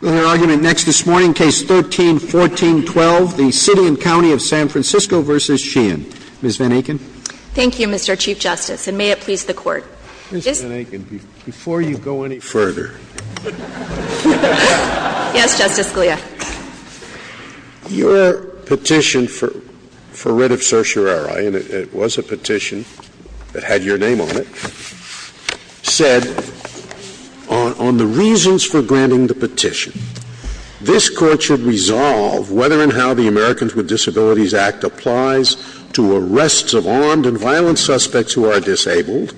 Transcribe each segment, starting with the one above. With our argument next this morning, Case 13-14-12, the City and County of San Francisco v. Sheehan. Ms. Van Aken. Thank you, Mr. Chief Justice, and may it please the Court. Ms. Van Aken, before you go any further. Yes, Justice Scalia. Your petition for writ of certiorari, and it was a petition that had your name on it, said, On the reasons for granting the petition, this Court should resolve whether and how the Americans with Disabilities Act applies to arrests of armed and violent suspects who are disabled.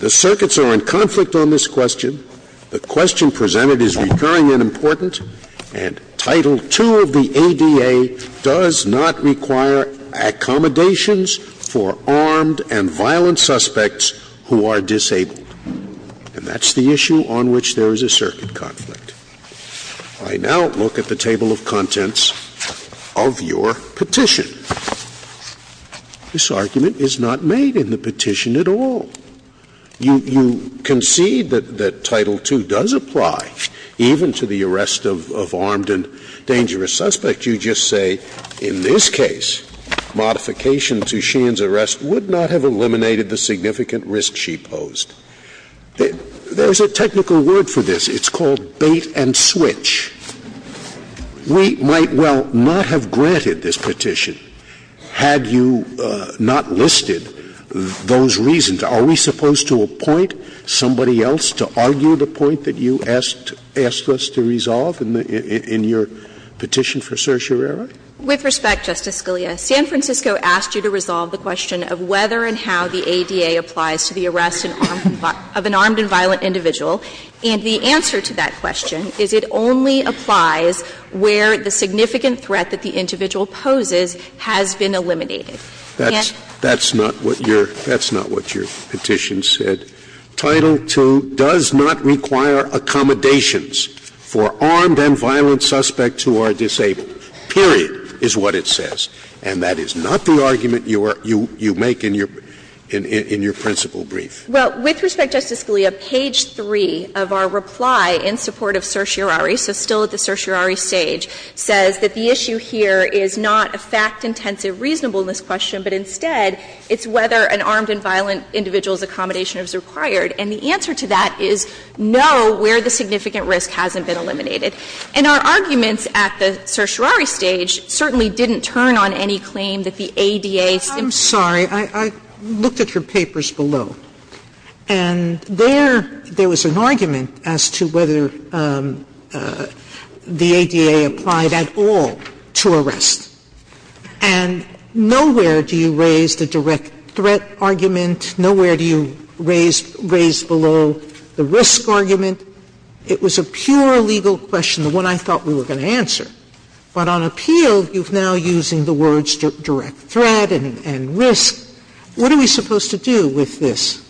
The circuits are in conflict on this question. The question presented is recurring and important. And Title II of the ADA does not require accommodations for armed and violent suspects who are disabled. And that's the issue on which there is a circuit conflict. I now look at the table of contents of your petition. This argument is not made in the petition at all. You concede that Title II does apply even to the arrest of armed and dangerous suspects. You just say, in this case, modification to Sheehan's arrest would not have eliminated the significant risk she posed. There is a technical word for this. It's called bait and switch. We might well not have granted this petition had you not listed those reasons. Are we supposed to appoint somebody else to argue the point that you asked us to resolve in your petition for certiorari? With respect, Justice Scalia, San Francisco asked you to resolve the question of whether and how the ADA applies to the arrest of an armed and violent individual. And the answer to that question is it only applies where the significant threat that the individual poses has been eliminated. That's not what your petition said. Title II does not require accommodations for armed and violent suspects who are disabled, period, is what it says. And that is not the argument you make in your principle brief. Well, with respect, Justice Scalia, page 3 of our reply in support of certiorari, so still at the certiorari stage, says that the issue here is not a fact-intensive, reasonableness question, but instead it's whether an armed and violent individual's accommodation is required. And the answer to that is no, where the significant risk hasn't been eliminated. And our arguments at the certiorari stage certainly didn't turn on any claim that the ADA simply didn't. Sotomayor, I'm sorry. I looked at your papers below, and there was an argument as to whether the ADA applied at all to arrest. And nowhere do you raise the direct threat argument. Nowhere do you raise below the risk argument. It was a pure legal question, the one I thought we were going to answer. But on appeal, you're now using the words direct threat and risk. What are we supposed to do with this?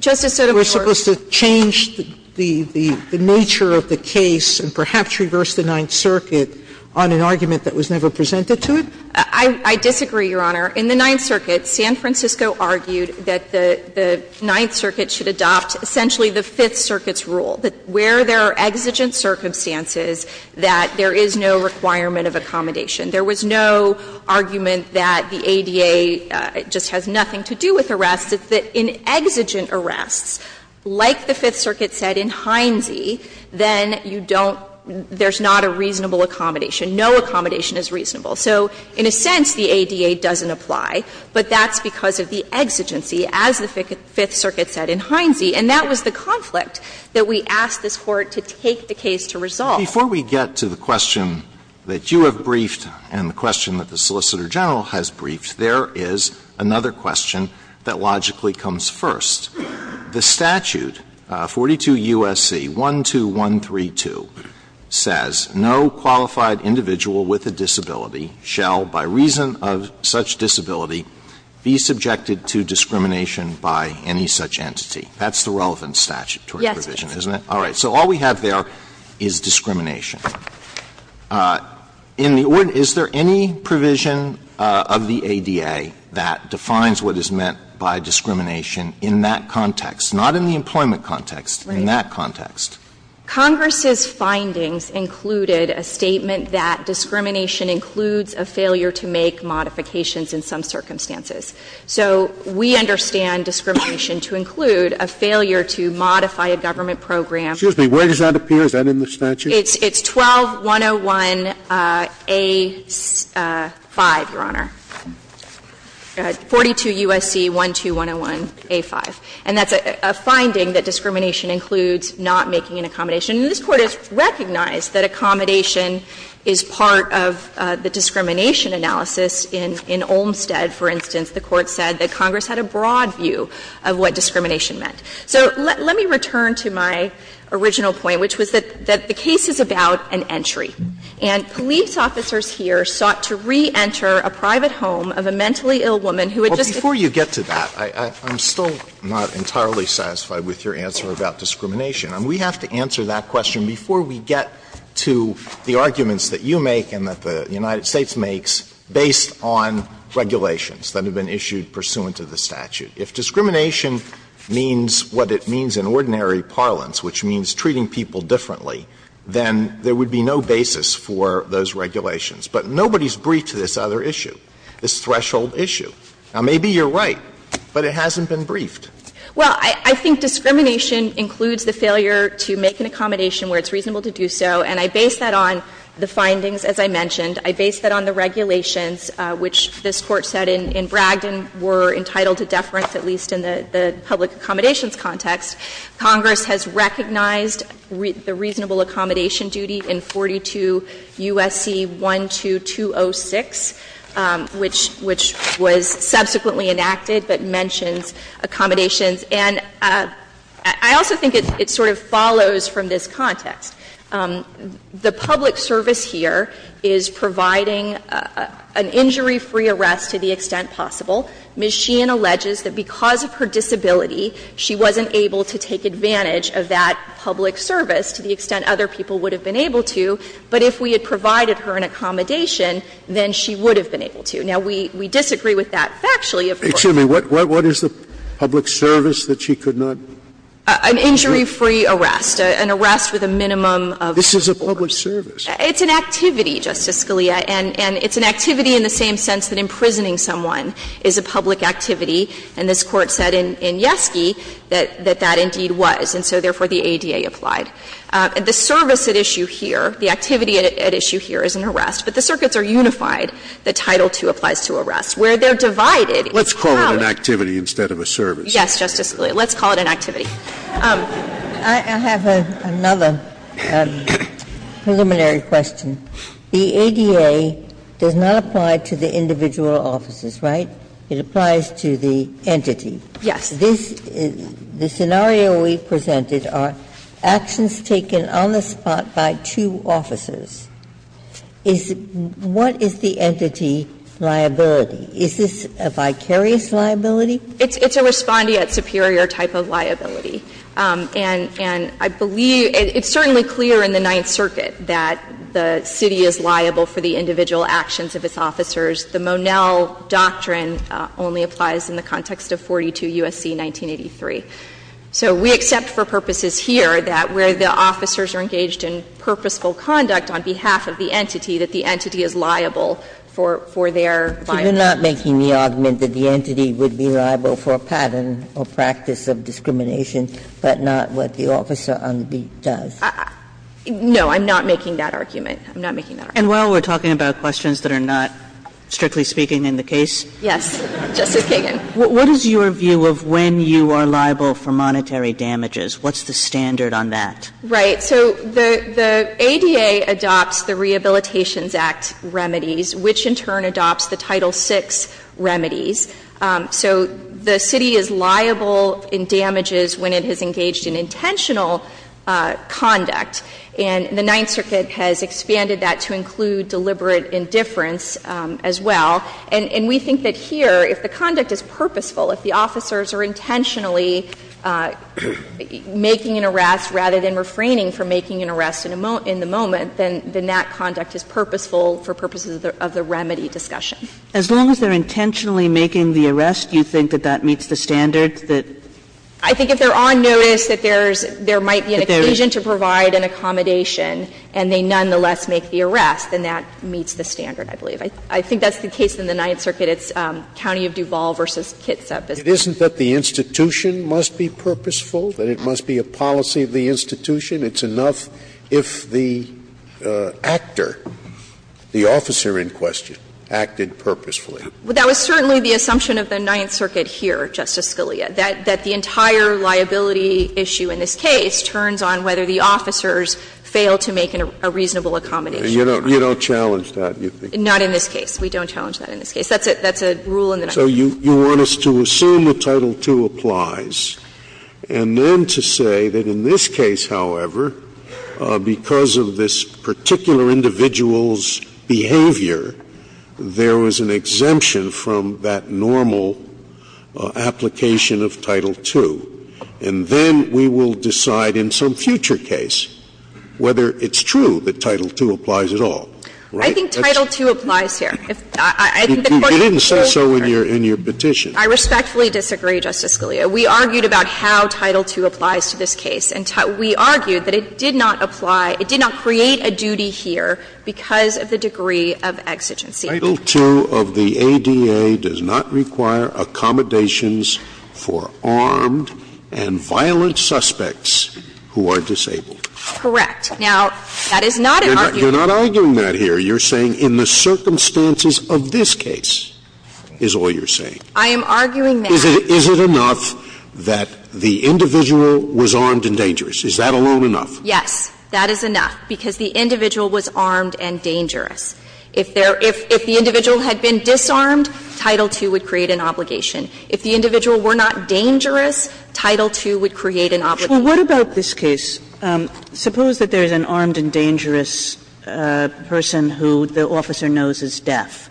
Justice Sotomayor. We're supposed to change the nature of the case and perhaps reverse the Ninth Circuit on an argument that was never presented to it? I disagree, Your Honor. In the Ninth Circuit, San Francisco argued that the Ninth Circuit should adopt essentially the Fifth Circuit's rule, that where there are exigent circumstances that there is no requirement of accommodation. There was no argument that the ADA just has nothing to do with arrests. It's that in exigent arrests, like the Fifth Circuit said in Hindsay, then you don't – there's not a reasonable accommodation. No accommodation is reasonable. So in a sense, the ADA doesn't apply. But that's because of the exigency, as the Fifth Circuit said in Hindsay. And that was the conflict that we asked this Court to take the case to resolve. Before we get to the question that you have briefed and the question that the Solicitor General has briefed, there is another question that logically comes first. The statute, 42 U.S.C. 12132, says, No qualified individual with a disability shall, by reason of such disability, be subjected to discrimination by any such entity. Yes. All right. So all we have there is discrimination. In the – is there any provision of the ADA that defines what is meant by discrimination in that context, not in the employment context, in that context? Congress's findings included a statement that discrimination includes a failure to make modifications in some circumstances. So we understand discrimination to include a failure to modify a government program. Excuse me. Where does that appear? Is that in the statute? It's 12101A5, Your Honor. Go ahead. 42 U.S.C. 12101A5. And that's a finding that discrimination includes not making an accommodation. And this Court has recognized that accommodation is part of the discrimination analysis in – in Olmstead, for instance. The Court said that Congress had a broad view of what discrimination meant. So let me return to my original point, which was that the case is about an entry. And police officers here sought to reenter a private home of a mentally ill woman who had just been – Well, before you get to that, I'm still not entirely satisfied with your answer about discrimination. I mean, we have to answer that question before we get to the arguments that you make and that the United States makes based on regulations that have been issued pursuant to the statute. If discrimination means what it means in ordinary parlance, which means treating people differently, then there would be no basis for those regulations. But nobody's briefed to this other issue, this threshold issue. Now, maybe you're right, but it hasn't been briefed. Well, I think discrimination includes the failure to make an accommodation where it's reasonable to do so. And I base that on the findings, as I mentioned. I base that on the regulations, which this Court said in Bragdon were entitled to deference, at least in the public accommodations context. Congress has recognized the reasonable accommodation duty in 42 U.S.C. 12206, which was subsequently enacted but mentions accommodations. And I also think it sort of follows from this context. The public service here is providing an injury-free arrest to the extent possible. Ms. Sheehan alleges that because of her disability, she wasn't able to take advantage of that public service to the extent other people would have been able to, but if we had provided her an accommodation, then she would have been able to. Now, we disagree with that factually, of course. Scalia, what is the public service that she could not do? An injury-free arrest. An arrest with a minimum of force. This is a public service. It's an activity, Justice Scalia. And it's an activity in the same sense that imprisoning someone is a public activity. And this Court said in Yeski that that indeed was. And so therefore, the ADA applied. The service at issue here, the activity at issue here is an arrest. But the circuits are unified. The Title II applies to arrests where they're divided. Let's call it an activity instead of a service. Yes, Justice Scalia. Let's call it an activity. Ginsburg. I have another preliminary question. The ADA does not apply to the individual officers, right? It applies to the entity. Yes. The scenario we presented are actions taken on the spot by two officers. What is the entity liability? Is this a vicarious liability? It's a respondeat superior type of liability. And I believe — it's certainly clear in the Ninth Circuit that the city is liable for the individual actions of its officers. The Monell doctrine only applies in the context of 42 U.S.C. 1983. So we accept for purposes here that where the officers are engaged in purposeful conduct on behalf of the entity, that the entity is liable for their liability. You're not making the argument that the entity would be liable for a pattern or practice of discrimination, but not what the officer on the beat does? No, I'm not making that argument. I'm not making that argument. And while we're talking about questions that are not, strictly speaking, in the case? Yes. Justice Kagan. What is your view of when you are liable for monetary damages? What's the standard on that? Right. So the ADA adopts the Rehabilitations Act remedies, which in turn adopts the Title VI remedies. So the city is liable in damages when it has engaged in intentional conduct, and the Ninth Circuit has expanded that to include deliberate indifference as well. And we think that here, if the conduct is purposeful, if the officers are intentionally making an arrest rather than refraining from making an arrest in the moment, then that conduct is purposeful for purposes of the remedy discussion. As long as they're intentionally making the arrest, you think that that meets the standard that? I think if they're on notice that there's – there might be an occasion to provide an accommodation, and they nonetheless make the arrest, then that meets the standard, I believe. I think that's the case in the Ninth Circuit. It's County of Duval v. Kitsap. It isn't that the institution must be purposeful, that it must be a policy of the institution. It's enough if the actor, the officer in question, acted purposefully. That was certainly the assumption of the Ninth Circuit here, Justice Scalia, that the entire liability issue in this case turns on whether the officers fail to make a reasonable accommodation. You don't challenge that, you think? Not in this case. That's a rule in the Ninth Circuit. So you want us to assume that Title II applies, and then to say that in this case, however, because of this particular individual's behavior, there was an exemption from that normal application of Title II, and then we will decide in some future case whether it's true that Title II applies at all, right? I think Title II applies here. I think the question is so clear. You didn't say so in your petition. I respectfully disagree, Justice Scalia. We argued about how Title II applies to this case. And we argued that it did not apply – it did not create a duty here because of the degree of exigency. Title II of the ADA does not require accommodations for armed and violent suspects who are disabled. Correct. Now, that is not an argument. You're not arguing that here. You're saying in the circumstances of this case is all you're saying. I am arguing that. Is it enough that the individual was armed and dangerous? Is that alone enough? Yes. That is enough, because the individual was armed and dangerous. If there – if the individual had been disarmed, Title II would create an obligation. If the individual were not dangerous, Title II would create an obligation. Well, what about this case? Suppose that there is an armed and dangerous person who the officer knows is deaf.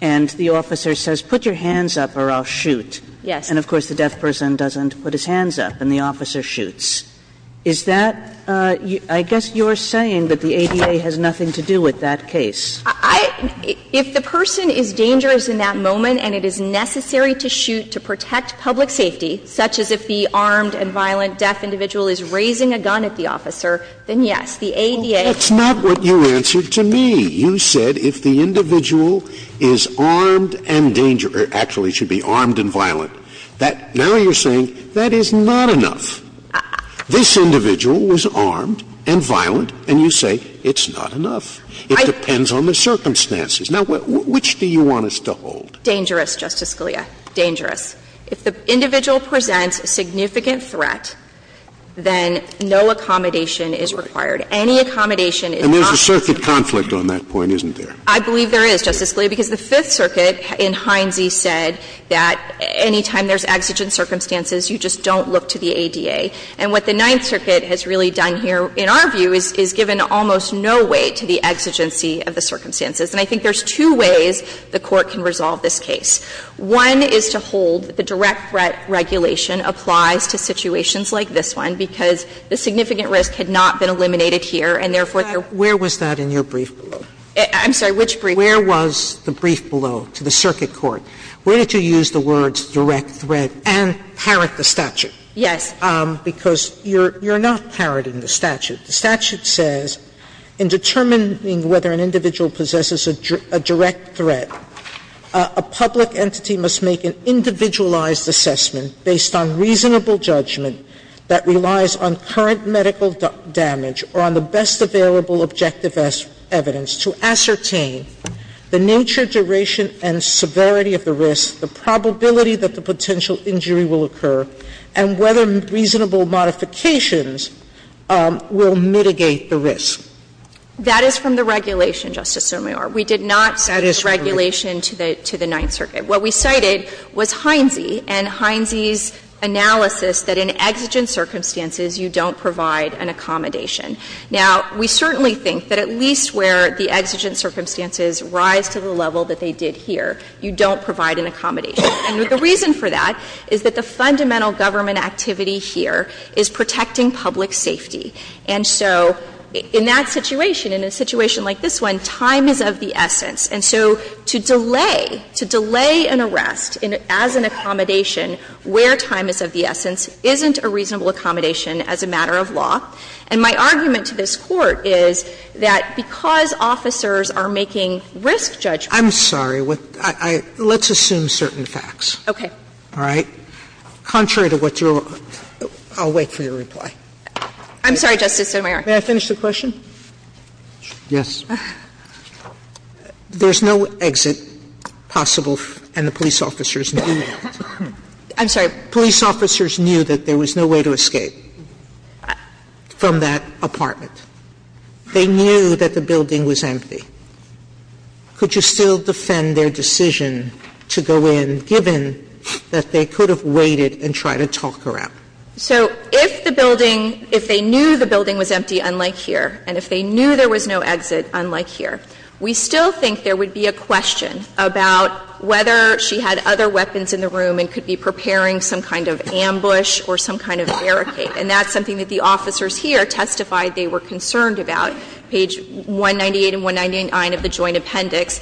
And the officer says, put your hands up or I'll shoot. Yes. And of course, the deaf person doesn't put his hands up and the officer shoots. Is that – I guess you're saying that the ADA has nothing to do with that case. I – if the person is dangerous in that moment and it is necessary to shoot to protect public safety, such as if the armed and violent deaf individual is raising a gun at the officer, then yes, the ADA – Well, that's not what you answered to me. You said if the individual is armed and dangerous – or actually should be armed and violent. That – now you're saying that is not enough. This individual was armed and violent, and you say it's not enough. It depends on the circumstances. Now, which do you want us to hold? Dangerous, Justice Scalia. Dangerous. If the individual presents significant threat, then no accommodation is required. Any accommodation is not – And there's a circuit conflict on that point, isn't there? I believe there is, Justice Scalia, because the Fifth Circuit in Hindsey said that any time there's exigent circumstances, you just don't look to the ADA. And what the Ninth Circuit has really done here, in our view, is given almost no weight to the exigency of the circumstances. And I think there's two ways the Court can resolve this case. One is to hold that the direct threat regulation applies to situations like this one, because the significant risk had not been eliminated here, and therefore there were – Where was that in your brief below? I'm sorry, which brief? Where was the brief below to the circuit court? Where did you use the words direct threat and parrot the statute? Yes. Because you're not parroting the statute. The statute says in determining whether an individual possesses a direct threat, a public entity must make an individualized assessment based on reasonable judgment that relies on current medical damage or on the best available objective evidence to ascertain the nature, duration, and severity of the risk, the probability that the potential injury will occur, and whether reasonable modifications will mitigate the risk. That is from the regulation, Justice Sotomayor. We did not cite this regulation to the Ninth Circuit. What we cited was Heinze and Heinze's analysis that in exigent circumstances you don't provide an accommodation. Now, we certainly think that at least where the exigent circumstances rise to the level that they did here, you don't provide an accommodation. And the reason for that is that the fundamental government activity here is protecting public safety. And so in that situation, in a situation like this one, time is of the essence. And so to delay, to delay an arrest as an accommodation where time is of the essence isn't a reasonable accommodation as a matter of law. And my argument to this Court is that because officers are making risk judgments to the public, they're not making a risk judgment. Sotomayor. Okay. All right. Contrary to what you're – I'll wait for your reply. I'm sorry, Justice Sotomayor. May I finish the question? Yes. There's no exit possible, and the police officers knew that. I'm sorry. Police officers knew that there was no way to escape from that apartment. They knew that the building was empty. Could you still defend their decision to go in, given that they could have waited and tried to talk her out? So if the building – if they knew the building was empty, unlike here, and if they knew there was no exit, unlike here, we still think there would be a question about whether she had other weapons in the room and could be preparing some kind of ambush or some kind of barricade. And that's something that the officers here testified they were concerned about. Page 198 and 199 of the Joint Appendix.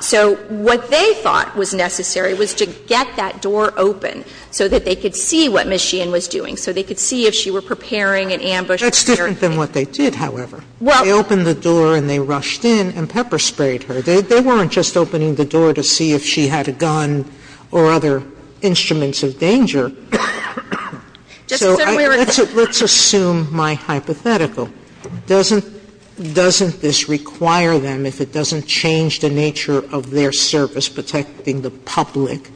So what they thought was necessary was to get that door open so that they could see what Ms. Sheehan was doing, so they could see if she were preparing an ambush or barricade. That's different than what they did, however. Well – They opened the door and they rushed in and pepper sprayed her. They weren't just opening the door to see if she had a gun or other instruments of danger. Justice Sotomayor, let's – let's assume my hypothetical. Doesn't – doesn't this require them, if it doesn't change the nature of their service protecting the public,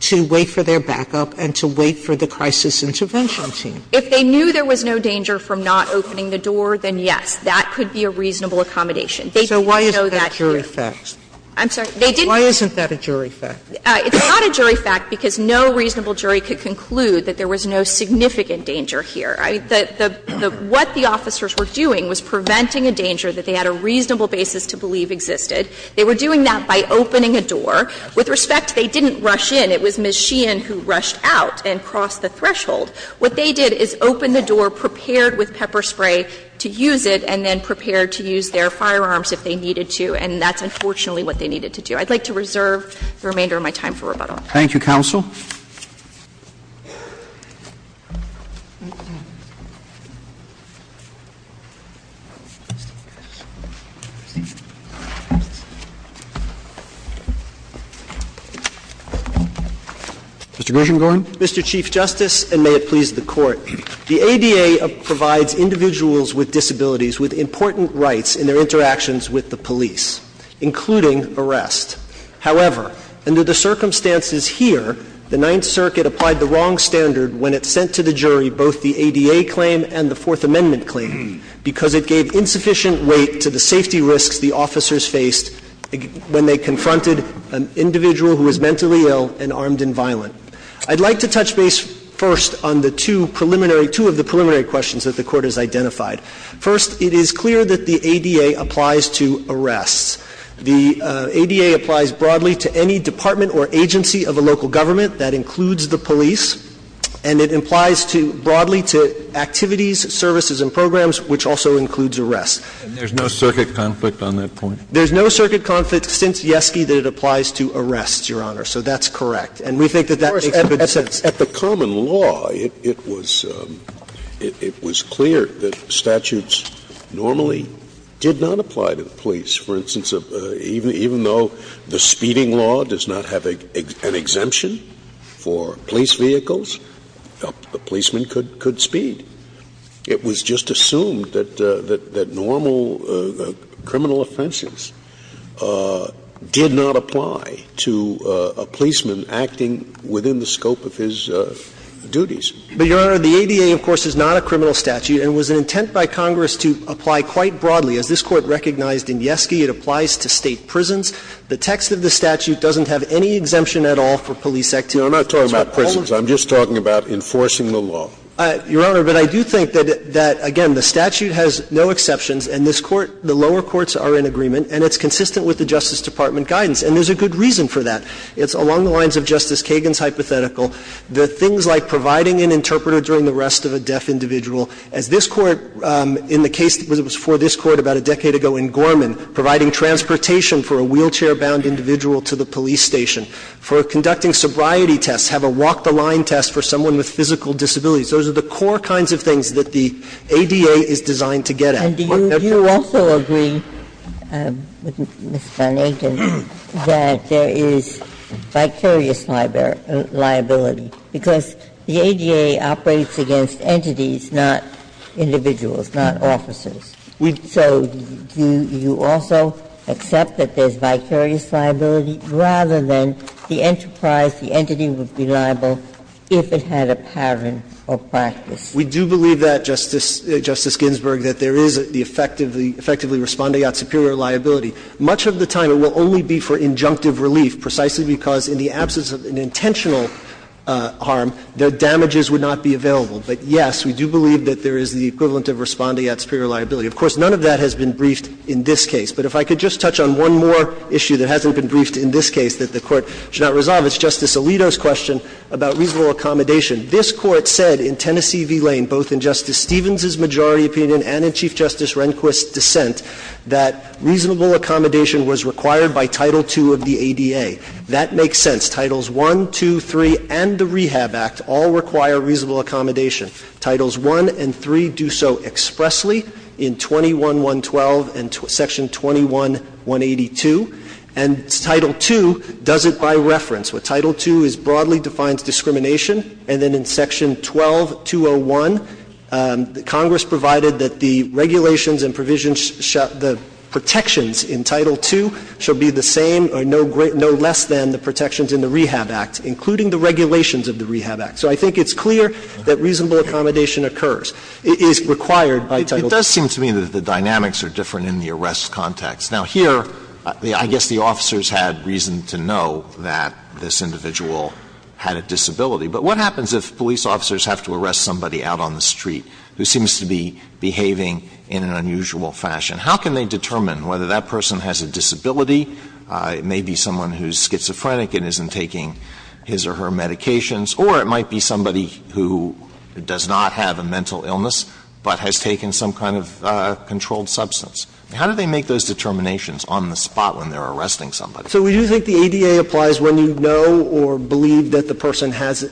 to wait for their backup and to wait for the crisis intervention team? If they knew there was no danger from not opening the door, then yes, that could be a reasonable accommodation. They didn't know that here. So why isn't that jury fact? I'm sorry. They didn't know. Why isn't that a jury fact? It's not a jury fact because no reasonable jury could conclude that there was no significant danger here. I mean, the – the – what the officers were doing was preventing a danger that they had a reasonable basis to believe existed. They were doing that by opening a door. With respect, they didn't rush in. It was Ms. Sheehan who rushed out and crossed the threshold. What they did is open the door, prepared with pepper spray to use it, and then prepared to use their firearms if they needed to. And that's unfortunately what they needed to do. I'd like to reserve the remainder of my time for rebuttal. Thank you, counsel. Mr. Grisham, go ahead. Mr. Chief Justice, and may it please the Court, the ADA provides individuals with disabilities with important rights in their interactions with the police, including arrest. However, under the circumstances here, the Ninth Circuit applied the wrong standard when it sent to the jury both the ADA claim and the Fourth Amendment claim because it gave insufficient weight to the safety risks the officers faced when they confronted an individual who was mentally ill and armed and violent. I'd like to touch base first on the two preliminary – two of the preliminary questions that the Court has identified. First, it is clear that the ADA applies to arrests. The ADA applies broadly to any department or agency of a local government. That includes the police. And it implies to – broadly to activities, services, and programs, which also includes arrests. And there's no circuit conflict on that point? There's no circuit conflict since Yeski that it applies to arrests, Your Honor. So that's correct. And we think that that makes good sense. At the common law, it was clear that statutes normally did not apply to the police. For instance, even though the speeding law does not have an exemption for police vehicles, a policeman could speed. It was just assumed that normal criminal offenses did not apply to a policeman acting within the scope of his duties. But, Your Honor, the ADA, of course, is not a criminal statute and was an intent by Congress to apply quite broadly. As this Court recognized in Yeski, it applies to State prisons. The text of the statute doesn't have any exemption at all for police activity. No, I'm not talking about prisons. I'm just talking about enforcing the law. Your Honor, but I do think that, again, the statute has no exceptions, and this Court – the lower courts are in agreement, and it's consistent with the Justice Department guidance. And there's a good reason for that. It's along the lines of Justice Kagan's hypothetical. The things like providing an interpreter during the arrest of a deaf individual. As this Court, in the case that was before this Court about a decade ago in Gorman, providing transportation for a wheelchair-bound individual to the police station. For conducting sobriety tests, have a walk-the-line test for someone with physical disabilities. Those are the core kinds of things that the ADA is designed to get at. Ginsburg. And do you also agree, Ms. Van Aken, that there is vicarious liability? Because the ADA operates against entities, not individuals, not officers. So do you also accept that there's vicarious liability, rather than the enterprise, the entity would be liable if it had a pattern or practice? We do believe that, Justice Ginsburg, that there is the effectively responding out superior liability. Much of the time it will only be for injunctive relief, precisely because in the absence of an intentional harm, the damages would not be available. But, yes, we do believe that there is the equivalent of responding out superior liability. Of course, none of that has been briefed in this case. But if I could just touch on one more issue that hasn't been briefed in this case that the Court should not resolve, it's Justice Alito's question about reasonable accommodation. This Court said in Tennessee v. Lane, both in Justice Stevens's majority opinion and in Chief Justice Rehnquist's dissent, that reasonable accommodation was required by Title II of the ADA. That makes sense. Titles I, II, III, and the Rehab Act all require reasonable accommodation. Titles I and III do so expressly in 21-112 and Section 21-182. And Title II does it by reference. What Title II is broadly defines discrimination, and then in Section 12-201, Congress provided that the regulations and provisions the protections in Title II should be the same or no less than the protections in the Rehab Act, including the regulations of the Rehab Act. So I think it's clear that reasonable accommodation occurs. It is required by Title II. Alito, it does seem to me that the dynamics are different in the arrest context. Now, here, I guess the officers had reason to know that this individual had a disability. But what happens if police officers have to arrest somebody out on the street who seems to be behaving in an unusual fashion? How can they determine whether that person has a disability? It may be someone who's schizophrenic and isn't taking his or her medications. Or it might be somebody who does not have a mental illness but has taken some kind of controlled substance. How do they make those determinations on the spot when they're arresting somebody? So we do think the ADA applies when you know or believe that the person has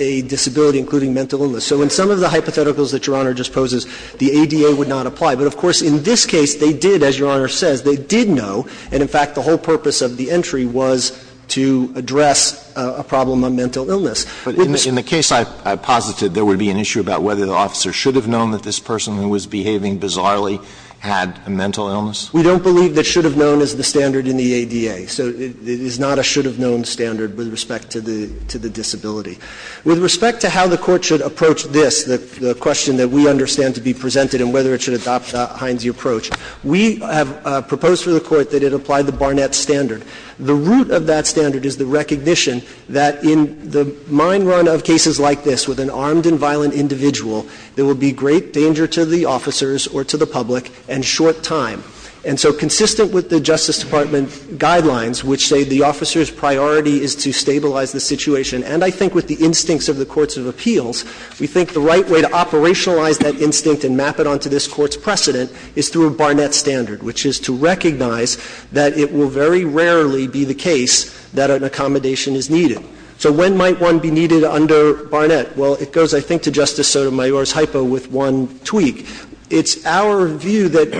a disability, including mental illness. So in some of the hypotheticals that Your Honor just poses, the ADA would not apply. But, of course, in this case, they did, as Your Honor says, they did know, and in fact, the whole purpose of the entry was to address a problem of mental illness. Alito, in the case I posited, there would be an issue about whether the officer should have known that this person who was behaving bizarrely had a mental illness? We don't believe that should have known is the standard in the ADA. So it is not a should have known standard with respect to the disability. With respect to how the Court should approach this, the question that we understand to be presented and whether it should adopt the Heinze approach, we have proposed for the Court that it apply the Barnett standard. The root of that standard is the recognition that in the mind run of cases like this, with an armed and violent individual, there will be great danger to the officers or to the public and short time. And so consistent with the Justice Department guidelines, which say the officer's priority is to stabilize the situation, and I think with the instincts of the courts of appeals, we think the right way to operationalize that instinct and map it onto this Court's precedent is through a Barnett standard, which is to recognize that it will very rarely be the case that an accommodation is needed. So when might one be needed under Barnett? Well, it goes, I think, to Justice Sotomayor's hypo with one tweak. It's our view that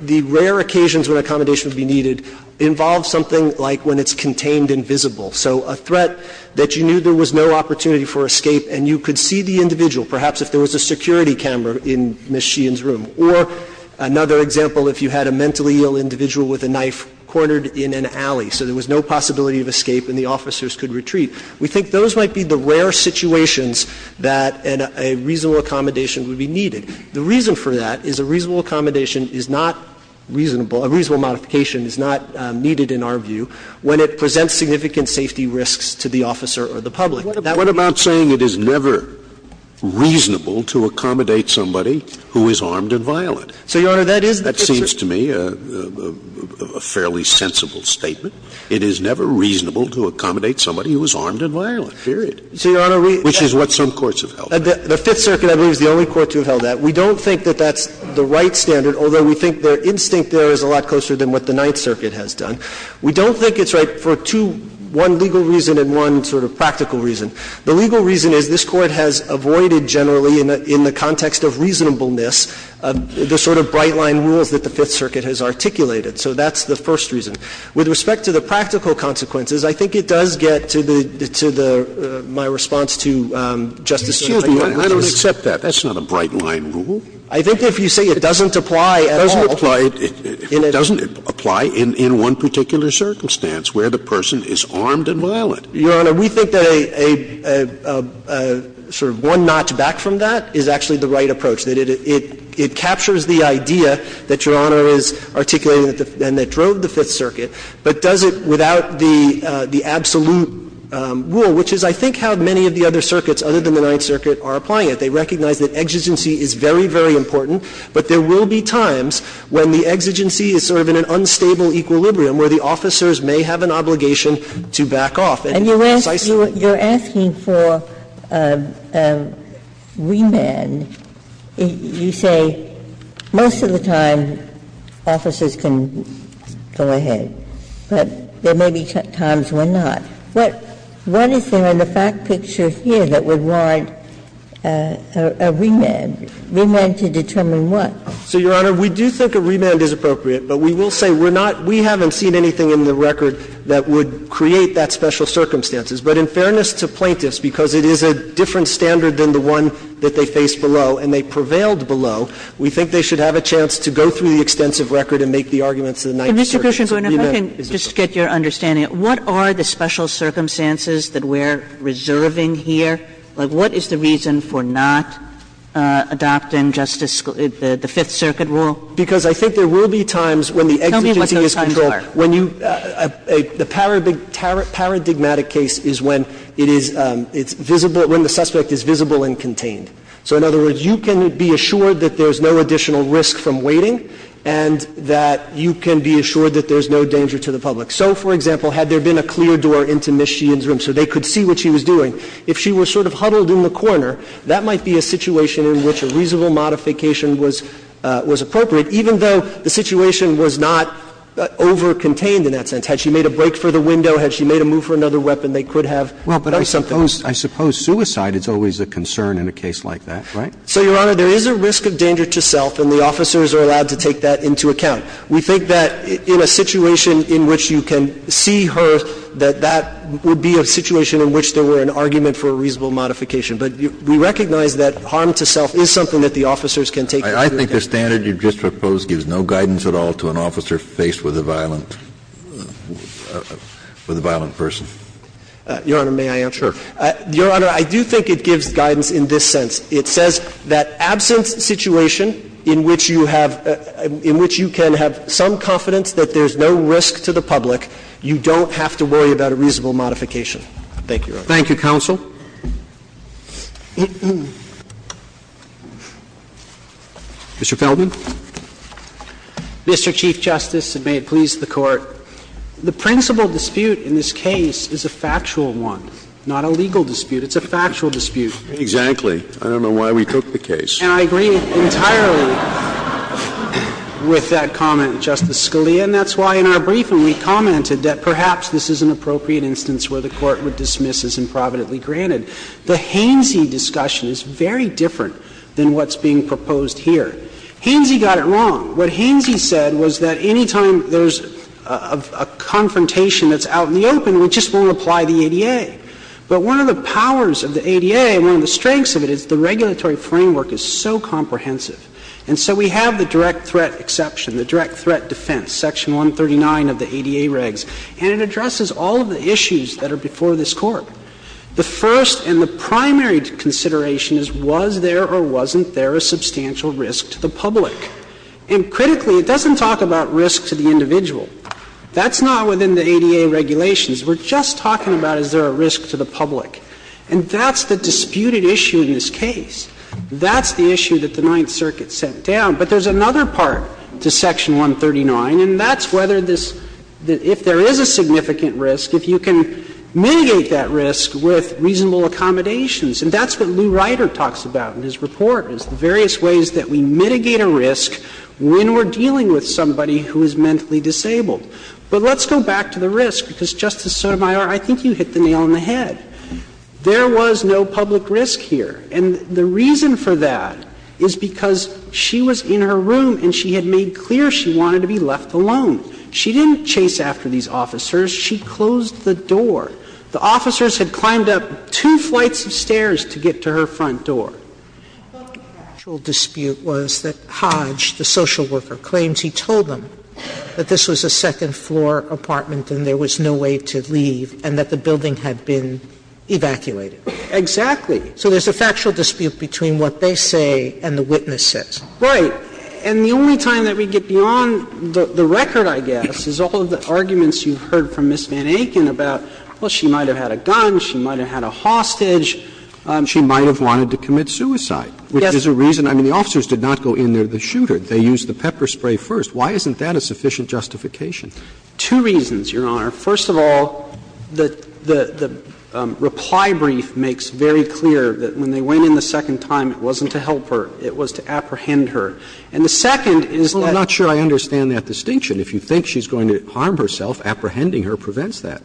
the rare occasions when accommodation would be needed involve something like when it's contained and visible. So a threat that you knew there was no opportunity for escape and you could see the individual, perhaps if there was a security camera in Ms. Sheehan's room, or another example, if you had a mentally ill individual with a knife cornered in an alley, so there was no possibility of escape and the officers could retreat, we think those might be the rare situations that a reasonable accommodation would be needed. The reason for that is a reasonable accommodation is not reasonable, a reasonable modification is not needed in our view, when it presents significant safety risks to the officer or the public. That would be a reasonable accommodation. Scalia, what about saying it is never reasonable to accommodate somebody who is armed and violent? So, Your Honor, that is the Fifth Circuit. That seems to me a fairly sensible statement. It is never reasonable to accommodate somebody who is armed and violent, period. So, Your Honor, we – Which is what some courts have held. The Fifth Circuit, I believe, is the only court to have held that. We don't think that that's the right standard, although we think their instinct there is a lot closer than what the Ninth Circuit has done. We don't think it's right for two – one legal reason and one sort of practical reason. The legal reason is this Court has avoided generally in the context of reasonableness the sort of bright-line rules that the Fifth Circuit has articulated. So that's the first reason. With respect to the practical consequences, I think it does get to the – to the – my response to Justice Sotomayor. Scalia, I don't accept that. That's not a bright-line rule. I think if you say it doesn't apply at all. Scalia, it doesn't apply in one particular circumstance where the person is armed and violent. Your Honor, we think that a sort of one notch back from that is actually the right approach, that it captures the idea that Your Honor is articulating and that drove the Fifth Circuit, but does it without the absolute rule, which is, I think, how many of the other circuits, other than the Ninth Circuit, are applying it. They recognize that exigency is very, very important, but there will be times when the exigency is sort of in an unstable equilibrium where the officers may have an obligation to back off. And it's precisely the case that Justice Sotomayor doesn't have to back off. Ginsburg. And you're asking for remand. You say most of the time officers can go ahead, but there may be times when not. What is there in the fact picture here that would warrant a remand? Remand to determine what? So, Your Honor, we do think a remand is appropriate, but we will say we're not we haven't seen anything in the record that would create that special circumstances. But in fairness to plaintiffs, because it is a different standard than the one that they faced below and they prevailed below, we think they should have a chance to go Mr. Krishnagoran, if I can just get your understanding, what are the special circumstances that we're reserving here? Like, what is the reason for not adopting Justice the Fifth Circuit rule? Because I think there will be times when the exigency is controlled. Tell me what those times are. The paradigmatic case is when it is visible, when the suspect is visible and contained. So in other words, you can be assured that there's no additional risk from waiting and that you can be assured that there's no danger to the public. So, for example, had there been a clear door into Ms. Sheehan's room so they could see what she was doing, if she were sort of huddled in the corner, that might be a situation in which a reasonable modification was appropriate, even though the situation was not over-contained in that sense. Had she made a break for the window, had she made a move for another weapon, they could have done something. Well, but I suppose suicide is always a concern in a case like that, right? So, Your Honor, there is a risk of danger to self, and the officers are allowed to take that into account. We think that in a situation in which you can see her, that that would be a situation in which there were an argument for a reasonable modification. But we recognize that harm to self is something that the officers can take into account. Kennedy, I think the standard you just proposed gives no guidance at all to an officer faced with a violent person. Your Honor, may I answer? Sure. Your Honor, I do think it gives guidance in this sense. It says that absent situation in which you have – in which you can have some confidence that there's no risk to the public, you don't have to worry about a reasonable Thank you, Your Honor. Thank you, counsel. Mr. Feldman. Mr. Chief Justice, and may it please the Court, the principal dispute in this case is a factual one, not a legal dispute. It's a factual dispute. Exactly. I don't know why we took the case. And I agree entirely with that comment, Justice Scalia, and that's why in our briefing we commented that perhaps this is an appropriate instance where the Court would dismiss as improvidently granted. The Hainsey discussion is very different than what's being proposed here. Hainsey got it wrong. What Hainsey said was that any time there's a confrontation that's out in the open, we just won't apply the ADA. But one of the powers of the ADA and one of the strengths of it is the regulatory framework is so comprehensive. And so we have the direct threat exception, the direct threat defense, Section 139 of the ADA regs, and it addresses all of the issues that are before this Court. The first and the primary consideration is was there or wasn't there a substantial risk to the public? And critically, it doesn't talk about risk to the individual. That's not within the ADA regulations. We're just talking about is there a risk to the public. And that's the disputed issue in this case. That's the issue that the Ninth Circuit set down. But there's another part to Section 139, and that's whether this – if there is a significant risk, if you can mitigate that risk with reasonable accommodations. And that's what Lou Ryder talks about in his report, is the various ways that we mitigate a risk when we're dealing with somebody who is mentally disabled. But let's go back to the risk, because, Justice Sotomayor, I think you hit the nail on the head. There was no public risk here. And the reason for that is because she was in her room and she had made clear she wanted to be left alone. She didn't chase after these officers. She closed the door. The officers had climbed up two flights of stairs to get to her front door. But the actual dispute was that Hodge, the social worker, claims he told them that this was a second-floor apartment and there was no way to leave and that the building had been evacuated. Exactly. So there's a factual dispute between what they say and the witnesses. Right. And the only time that we get beyond the record, I guess, is all of the arguments you've heard from Ms. Van Aken about, well, she might have had a gun, she might have had a hostage. She might have wanted to commit suicide, which is a reason – I mean, the officers did not go in there to shoot her. They used the pepper spray first. Why isn't that a sufficient justification? Two reasons, Your Honor. First of all, the reply brief makes very clear that when they went in the second time, it wasn't to help her. It was to apprehend her. And the second is that – Well, I'm not sure I understand that distinction. If you think she's going to harm herself, apprehending her prevents that.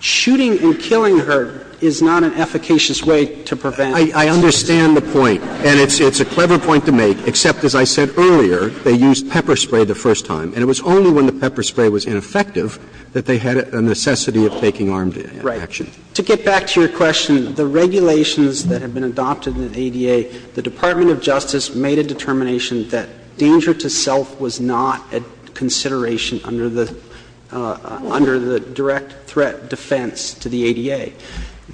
Shooting and killing her is not an efficacious way to prevent – I understand the point. And it's a clever point to make, except, as I said earlier, they used pepper spray the first time. And it was only when the pepper spray was ineffective that they had a necessity of taking armed action. Right. To get back to your question, the regulations that have been adopted in the ADA, the Department of Justice made a determination that danger to self was not a consideration under the direct threat defense to the ADA.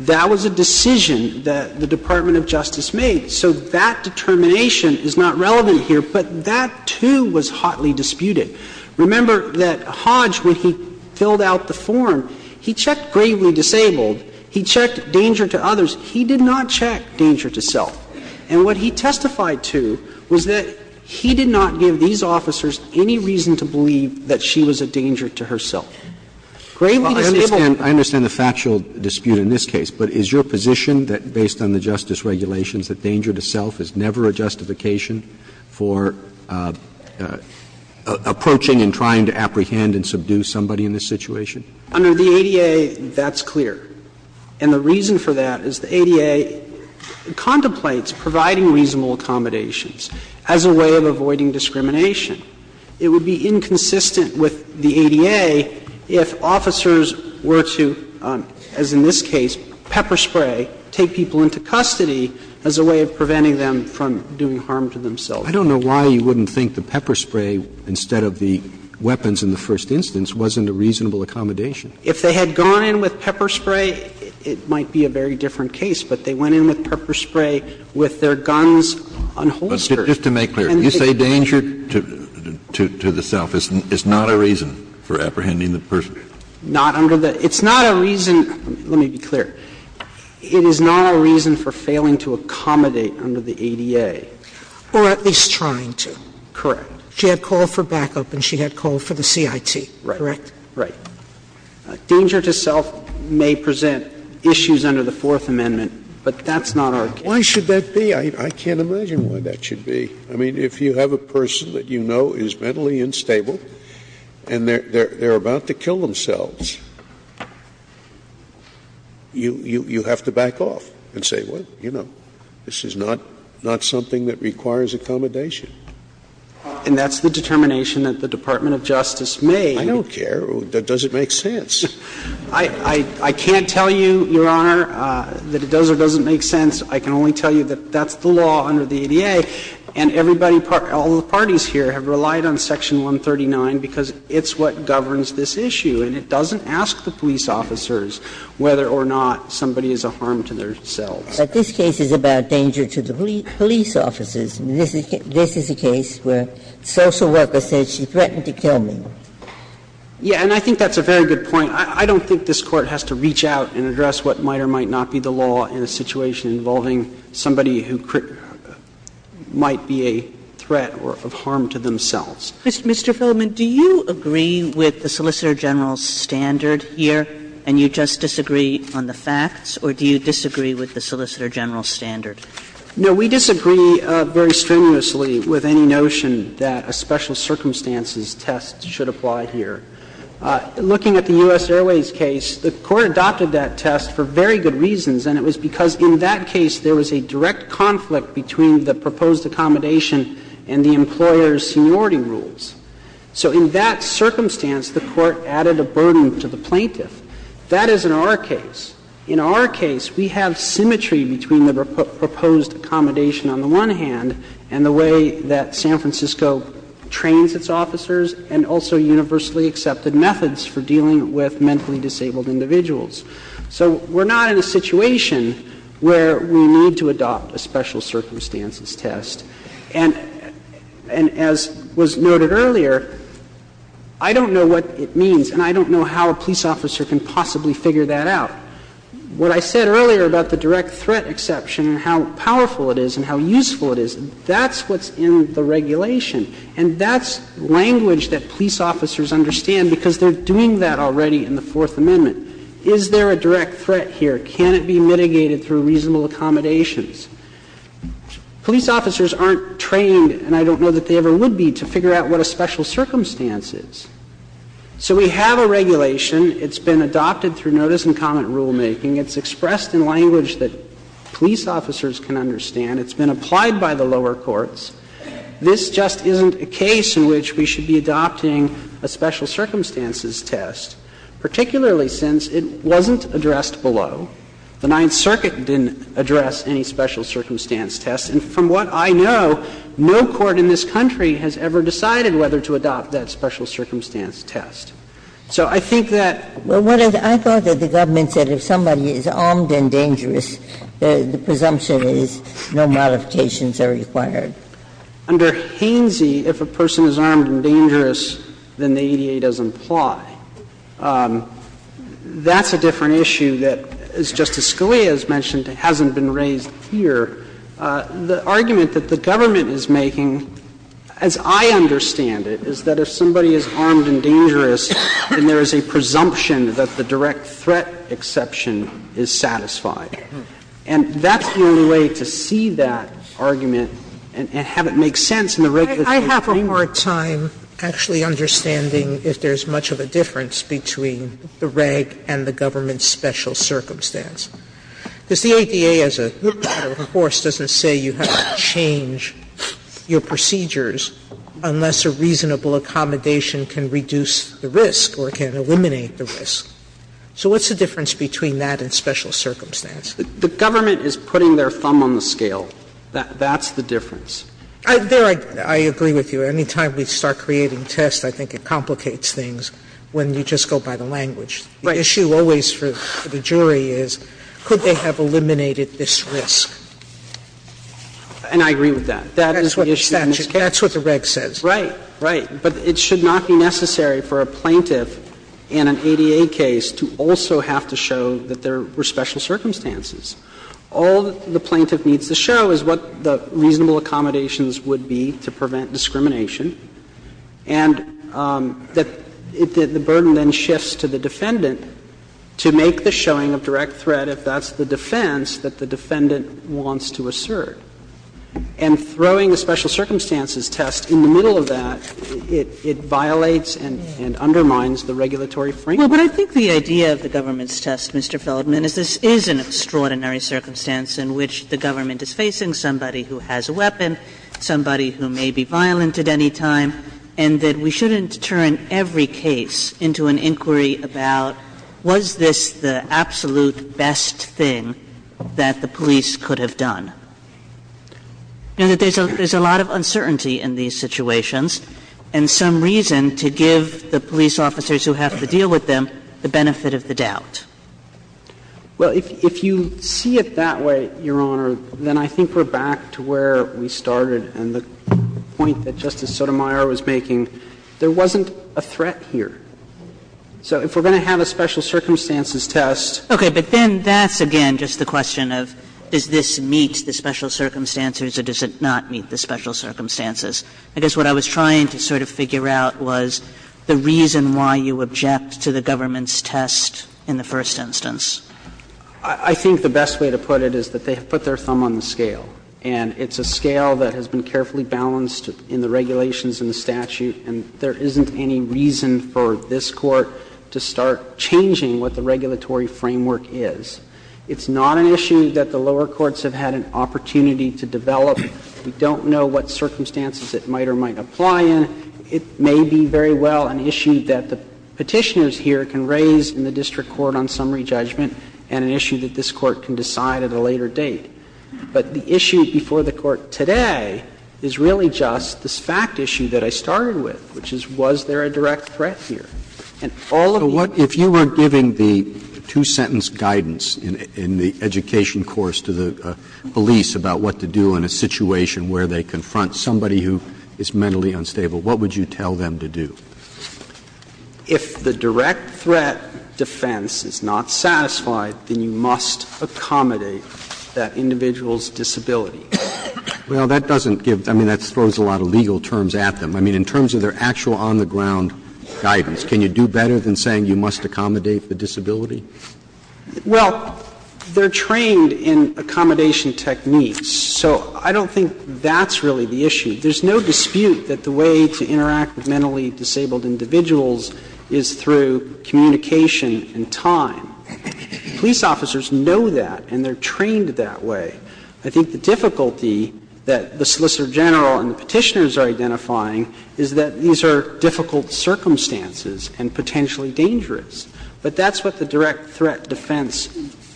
That was a decision that the Department of Justice made. So that determination is not relevant here, but that, too, was hotly disputed. Remember that Hodge, when he filled out the form, he checked gravely disabled. He checked danger to others. He did not check danger to self. And what he testified to was that he did not give these officers any reason to believe that she was a danger to herself. Gravely disabled – Well, I understand the factual dispute in this case, but is your position that based on the justice regulations that danger to self is never a justification for approaching and trying to apprehend and subdue somebody in this situation? Under the ADA, that's clear. And the reason for that is the ADA contemplates providing reasonable accommodations as a way of avoiding discrimination. It would be inconsistent with the ADA if officers were to, as in this case, pepper spray, take people into custody as a way of preventing them from doing harm to themselves. I don't know why you wouldn't think the pepper spray, instead of the weapons in the first instance, wasn't a reasonable accommodation. If they had gone in with pepper spray, it might be a very different case. But they went in with pepper spray with their guns unholstered. But just to make clear, you say danger to the self. It's not a reason for apprehending the person? Not under the – it's not a reason – let me be clear. It is not a reason for failing to accommodate under the ADA? Or at least trying to. Correct. She had called for backup and she had called for the CIT, correct? Right. Danger to self may present issues under the Fourth Amendment, but that's not our case. Why should that be? I can't imagine why that should be. I mean, if you have a person that you know is mentally unstable and they're about to kill themselves, you have to back off and say, well, you know, this is not something that requires accommodation. And that's the determination that the Department of Justice made. I don't care. It doesn't make sense. I can't tell you, Your Honor, that it does or doesn't make sense. I can only tell you that that's the law under the ADA. And everybody, all the parties here have relied on Section 139 because it's what governs this issue, and it doesn't ask the police officers whether or not somebody is a harm to themselves. But this case is about danger to the police officers. This is a case where the social worker says she threatened to kill me. Yeah, and I think that's a very good point. I don't think this Court has to reach out and address what might or might not be the law in a situation involving somebody who might be a threat or a harm to themselves. Mr. Phillip, do you agree with the Solicitor General's standard here, and you just disagree on the facts, or do you disagree with the Solicitor General's standard? No, we disagree very strenuously with any notion that a special circumstances test should apply here. Looking at the U.S. Airways case, the Court adopted that test for very good reasons, and it was because in that case there was a direct conflict between the proposed accommodation and the employer's seniority rules. So in that circumstance, the Court added a burden to the plaintiff. That is in our case. In our case, we have symmetry between the proposed accommodation on the one hand and the way that San Francisco trains its officers and also universally accepted methods for dealing with mentally disabled individuals. So we're not in a situation where we need to adopt a special circumstances test. And as was noted earlier, I don't know what it means and I don't know how a police officer can possibly figure that out. What I said earlier about the direct threat exception and how powerful it is and how useful it is, that's what's in the regulation. And that's language that police officers understand because they're doing that already in the Fourth Amendment. Is there a direct threat here? Can it be mitigated through reasonable accommodations? Police officers aren't trained, and I don't know that they ever would be, to figure out what a special circumstance is. So we have a regulation. It's been adopted through notice and comment rulemaking. It's expressed in language that police officers can understand. It's been applied by the lower courts. This just isn't a case in which we should be adopting a special circumstances test, particularly since it wasn't addressed below. The Ninth Circuit didn't address any special circumstance test. And from what I know, no court in this country has ever decided whether to adopt that special circumstance test. So I think that what I thought that the government said, if somebody is armed and dangerous, the presumption is no modifications are required. Under Hainsey, if a person is armed and dangerous, then the ADA doesn't apply. That's a different issue that, as Justice Scalia has mentioned, hasn't been raised here. The argument that the government is making, as I understand it, is that if somebody is armed and dangerous, then there is a presumption that the direct threat exception is satisfied. And that's the only way to see that argument and have it make sense in the regulatory Sotomayor, I have a hard time actually understanding if there's much of a difference between the reg and the government's special circumstance. Because the ADA, as a matter of course, doesn't say you have to change your procedures unless a reasonable accommodation can reduce the risk or can eliminate the risk. So what's the difference between that and special circumstance? The government is putting their thumb on the scale. That's the difference. There, I agree with you. Any time we start creating tests, I think it complicates things when you just go by the language. Right. The issue always for the jury is could they have eliminated this risk? And I agree with that. That is the issue in this case. That's what the reg says. Right. Right. But it should not be necessary for a plaintiff in an ADA case to also have to show that there were special circumstances. All the plaintiff needs to show is what the reasonable accommodations would be to prevent discrimination, and that the burden then shifts to the defendant to make the showing of direct threat if that's the defense that the defendant wants to assert. And throwing the special circumstances test in the middle of that, it violates and undermines the regulatory framework. Kagan. But I think the idea of the government's test, Mr. Feldman, is this is an extraordinary circumstance in which the government is facing somebody who has a weapon, somebody who may be violent at any time, and that we shouldn't turn every case into an inquiry about was this the absolute best thing that the police could have done. And that there's a lot of uncertainty in these situations, and some reason to give the police officers who have to deal with them the benefit of the doubt. Well, if you see it that way, Your Honor, then I think we're back to where we started and the point that Justice Sotomayor was making. There wasn't a threat here. So if we're going to have a special circumstances test. Kagan. Okay. But then that's, again, just the question of does this meet the special circumstances or does it not meet the special circumstances? I guess what I was trying to sort of figure out was the reason why you object to the government's test in the first instance. I think the best way to put it is that they have put their thumb on the scale. And it's a scale that has been carefully balanced in the regulations and the statute, and there isn't any reason for this Court to start changing what the regulatory framework is. It's not an issue that the lower courts have had an opportunity to develop. We don't know what circumstances it might or might apply in. It may be very well an issue that the Petitioners here can raise in the district court on summary judgment and an issue that this Court can decide at a later date. But the issue before the Court today is really just this fact issue that I started with, which is was there a direct threat here. And all of these cases are not directly threated, and all of these cases are not directly threatened. Roberts, if you were giving the two-sentence guidance in the education course to the police about what to do in a situation where they confront somebody who is mentally unstable, what would you tell them to do? If the direct threat defense is not satisfied, then you must accommodate that individual's disability. Well, that doesn't give – I mean, that throws a lot of legal terms at them. I mean, in terms of their actual on-the-ground guidance, can you do better than saying you must accommodate the disability? Well, they're trained in accommodation techniques, so I don't think that's really the issue. There's no dispute that the way to interact with mentally disabled individuals is through communication and time. Police officers know that, and they're trained that way. I think the difficulty that the Solicitor General and the Petitioners are identifying is that these are difficult circumstances and potentially dangerous. But that's what the direct threat defense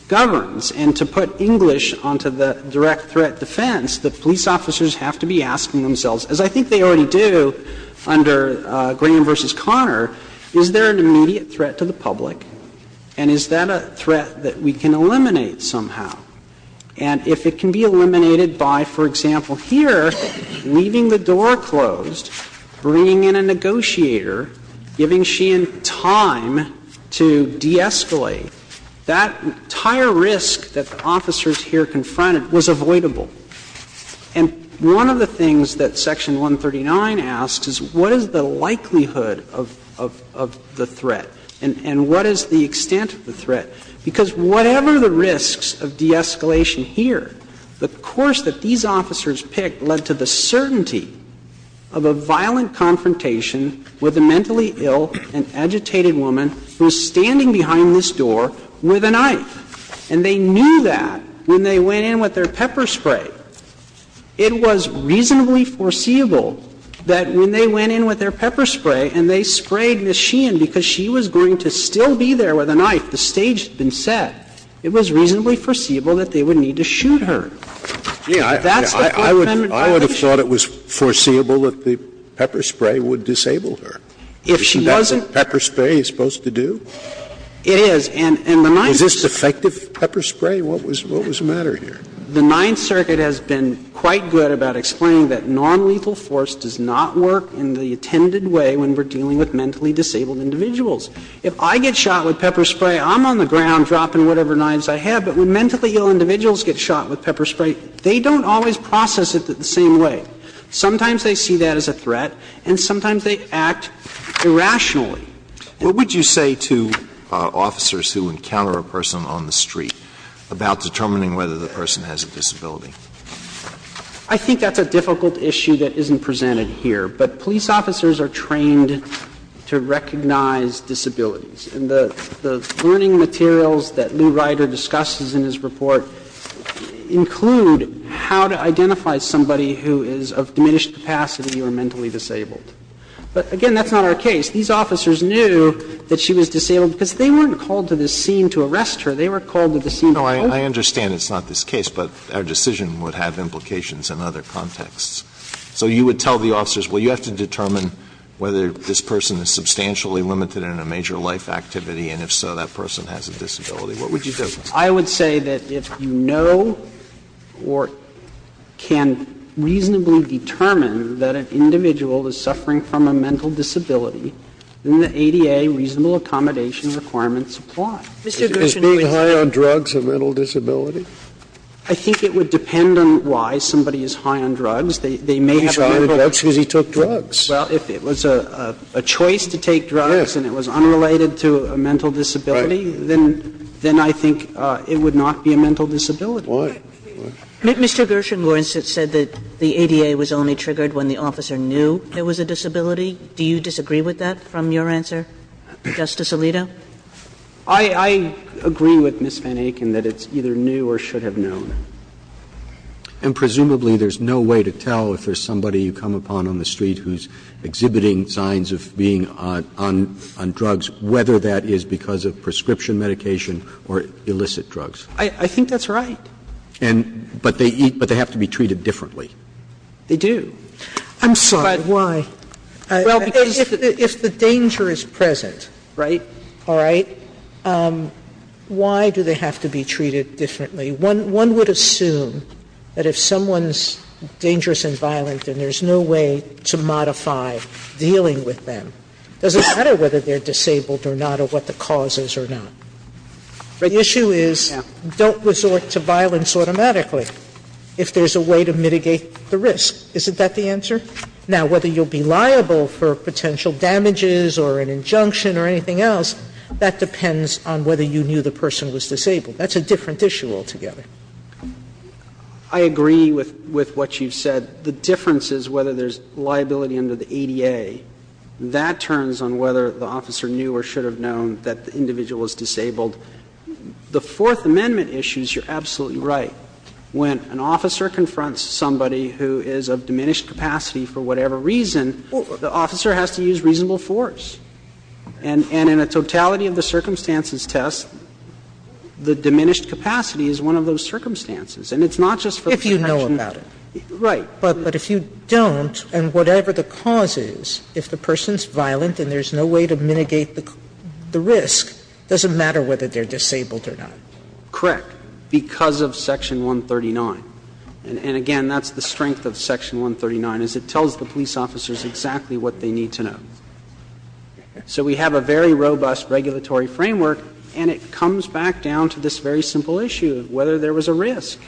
governs. And to put English onto the direct threat defense, the police officers have to be asking themselves, as I think they already do under Graham v. Conner, is there an immediate threat to the public, and is that a threat that we can eliminate somehow? And if it can be eliminated by, for example, here, leaving the door closed, bringing in a negotiator, giving she and time to de-escalate, that entire risk that the officers here confronted was avoidable. And one of the things that Section 139 asks is what is the likelihood of the threat and what is the extent of the threat? Because whatever the risks of de-escalation here, the course that these officers picked led to the certainty of a violent confrontation with a mentally ill and agitated woman who is standing behind this door with a knife. And they knew that when they went in with their pepper spray. It was reasonably foreseeable that when they went in with their pepper spray and they had been set, it was reasonably foreseeable that they would need to shoot her. If that's the defendant's position. Scalia, I would have thought it was foreseeable that the pepper spray would disable her. If she wasn't. Isn't that what pepper spray is supposed to do? It is. And the Ninth Circuit. Was this defective pepper spray? What was the matter here? The Ninth Circuit has been quite good about explaining that nonlethal force does not work in the intended way when we're dealing with mentally disabled individuals. If I get shot with pepper spray, I'm on the ground dropping whatever knives I have. But when mentally ill individuals get shot with pepper spray, they don't always process it the same way. Sometimes they see that as a threat and sometimes they act irrationally. What would you say to officers who encounter a person on the street about determining whether the person has a disability? I think that's a difficult issue that isn't presented here. But police officers are trained to recognize disabilities. And the learning materials that Lou Ryder discusses in his report include how to identify somebody who is of diminished capacity or mentally disabled. But, again, that's not our case. These officers knew that she was disabled because they weren't called to this scene to arrest her. They were called to the scene to hold her. I understand it's not this case, but our decision would have implications in other contexts. So you would tell the officers, well, you have to determine whether this person is substantially limited in a major life activity, and if so, that person has a disability. What would you tell them? I would say that if you know or can reasonably determine that an individual is suffering from a mental disability, then the ADA reasonable accommodation requirements apply. Is being high on drugs a mental disability? I think it would depend on why somebody is high on drugs. They may have a high level of drug addiction. But he's high on drugs because he took drugs. Well, if it was a choice to take drugs and it was unrelated to a mental disability, then I think it would not be a mental disability. Why? Mr. Gershengorn said that the ADA was only triggered when the officer knew there was a disability. Do you disagree with that from your answer, Justice Alito? I agree with Ms. Van Aken that it's either new or should have known. And presumably there's no way to tell if there's somebody you come upon on the street who's exhibiting signs of being on drugs, whether that is because of prescription medication or illicit drugs. I think that's right. And but they eat, but they have to be treated differently. They do. I'm sorry, why? Well, if the danger is present, right, all right, why do they have to be treated differently? One would assume that if someone's dangerous and violent and there's no way to modify dealing with them, it doesn't matter whether they're disabled or not or what the cause is or not. The issue is don't resort to violence automatically if there's a way to mitigate the risk. Isn't that the answer? Now, whether you'll be liable for potential damages or an injunction or anything else, that depends on whether you knew the person was disabled. That's a different issue altogether. I agree with what you've said. The difference is whether there's liability under the ADA. That turns on whether the officer knew or should have known that the individual was disabled. The Fourth Amendment issues, you're absolutely right. When an officer confronts somebody who is of diminished capacity for whatever reason, the officer has to use reasonable force. And in a totality of the circumstances test, the diminished capacity is one of those circumstances. And it's not just for the connection. If you know about it. Right. But if you don't, and whatever the cause is, if the person's violent and there's no way to mitigate the risk, it doesn't matter whether they're disabled or not. Correct, because of Section 139. And, again, that's the strength of Section 139, is it tells the police officers exactly what they need to know. So we have a very robust regulatory framework, and it comes back down to this very simple issue of whether there was a risk.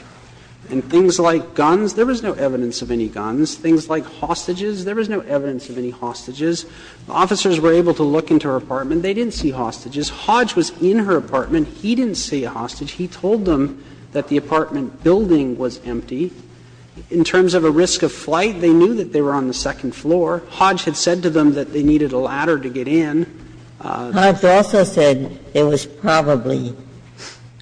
And things like guns, there was no evidence of any guns. Things like hostages, there was no evidence of any hostages. Officers were able to look into her apartment. They didn't see hostages. Hodge was in her apartment. He didn't see a hostage. He told them that the apartment building was empty. In terms of a risk of flight, they knew that they were on the second floor. Hodge had said to them that they needed a ladder to get in. Ginsburg's also said it was probably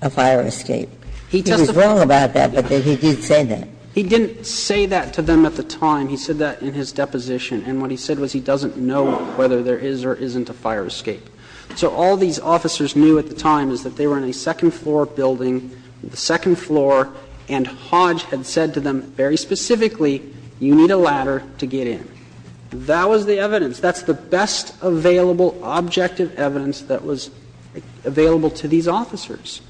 a fire escape. He was wrong about that, but he did say that. He didn't say that to them at the time. He said that in his deposition. And what he said was he doesn't know whether there is or isn't a fire escape. So all these officers knew at the time is that they were in a second floor building, the second floor, and Hodge had said to them very specifically, you need a ladder to get in. That was the evidence. That's the best available objective evidence that was available to these officers.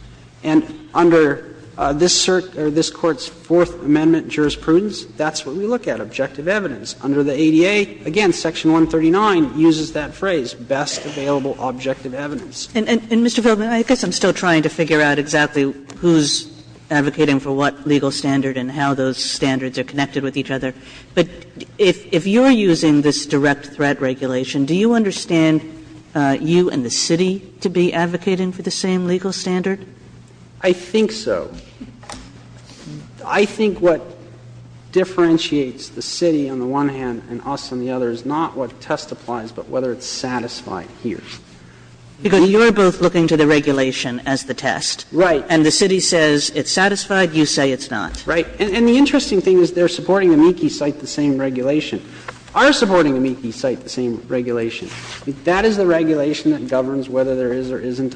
And under this Court's Fourth Amendment jurisprudence, that's what we look at, objective evidence. Under the ADA, again, Section 139 uses that phrase, best available objective evidence. Kagan. And, Mr. Feldman, I guess I'm still trying to figure out exactly who's advocating for what legal standard and how those standards are connected with each other. But if you're using this direct threat regulation, do you understand you and the city to be advocating for the same legal standard? I think so. I think what differentiates the city on the one hand and us on the other is not what testifies, but whether it's satisfied here. Because you're both looking to the regulation as the test. Right. And the city says it's satisfied, you say it's not. Right. And the interesting thing is they're supporting amici cite the same regulation. Are supporting amici cite the same regulation. That is the regulation that governs whether there is or isn't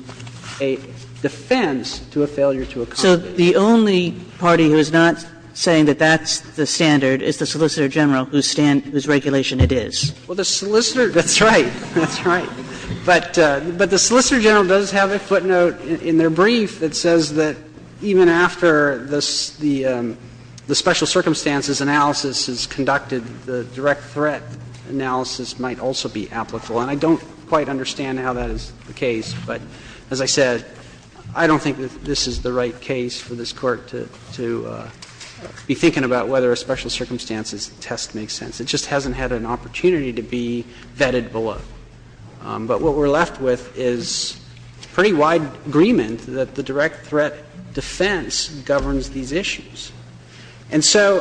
a defense to a failure to accommodate. So the only party who is not saying that that's the standard is the Solicitor General, whose regulation it is. Well, the Solicitor General does have a footnote in their brief that says that even after the special circumstances analysis is conducted, the direct threat analysis might also be applicable. And I don't quite understand how that is the case, but as I said, I don't think that this is the right case for this Court to be thinking about whether a special circumstances test makes sense. It just hasn't had an opportunity to be vetted below. But what we're left with is pretty wide agreement that the direct threat defense governs these issues. And so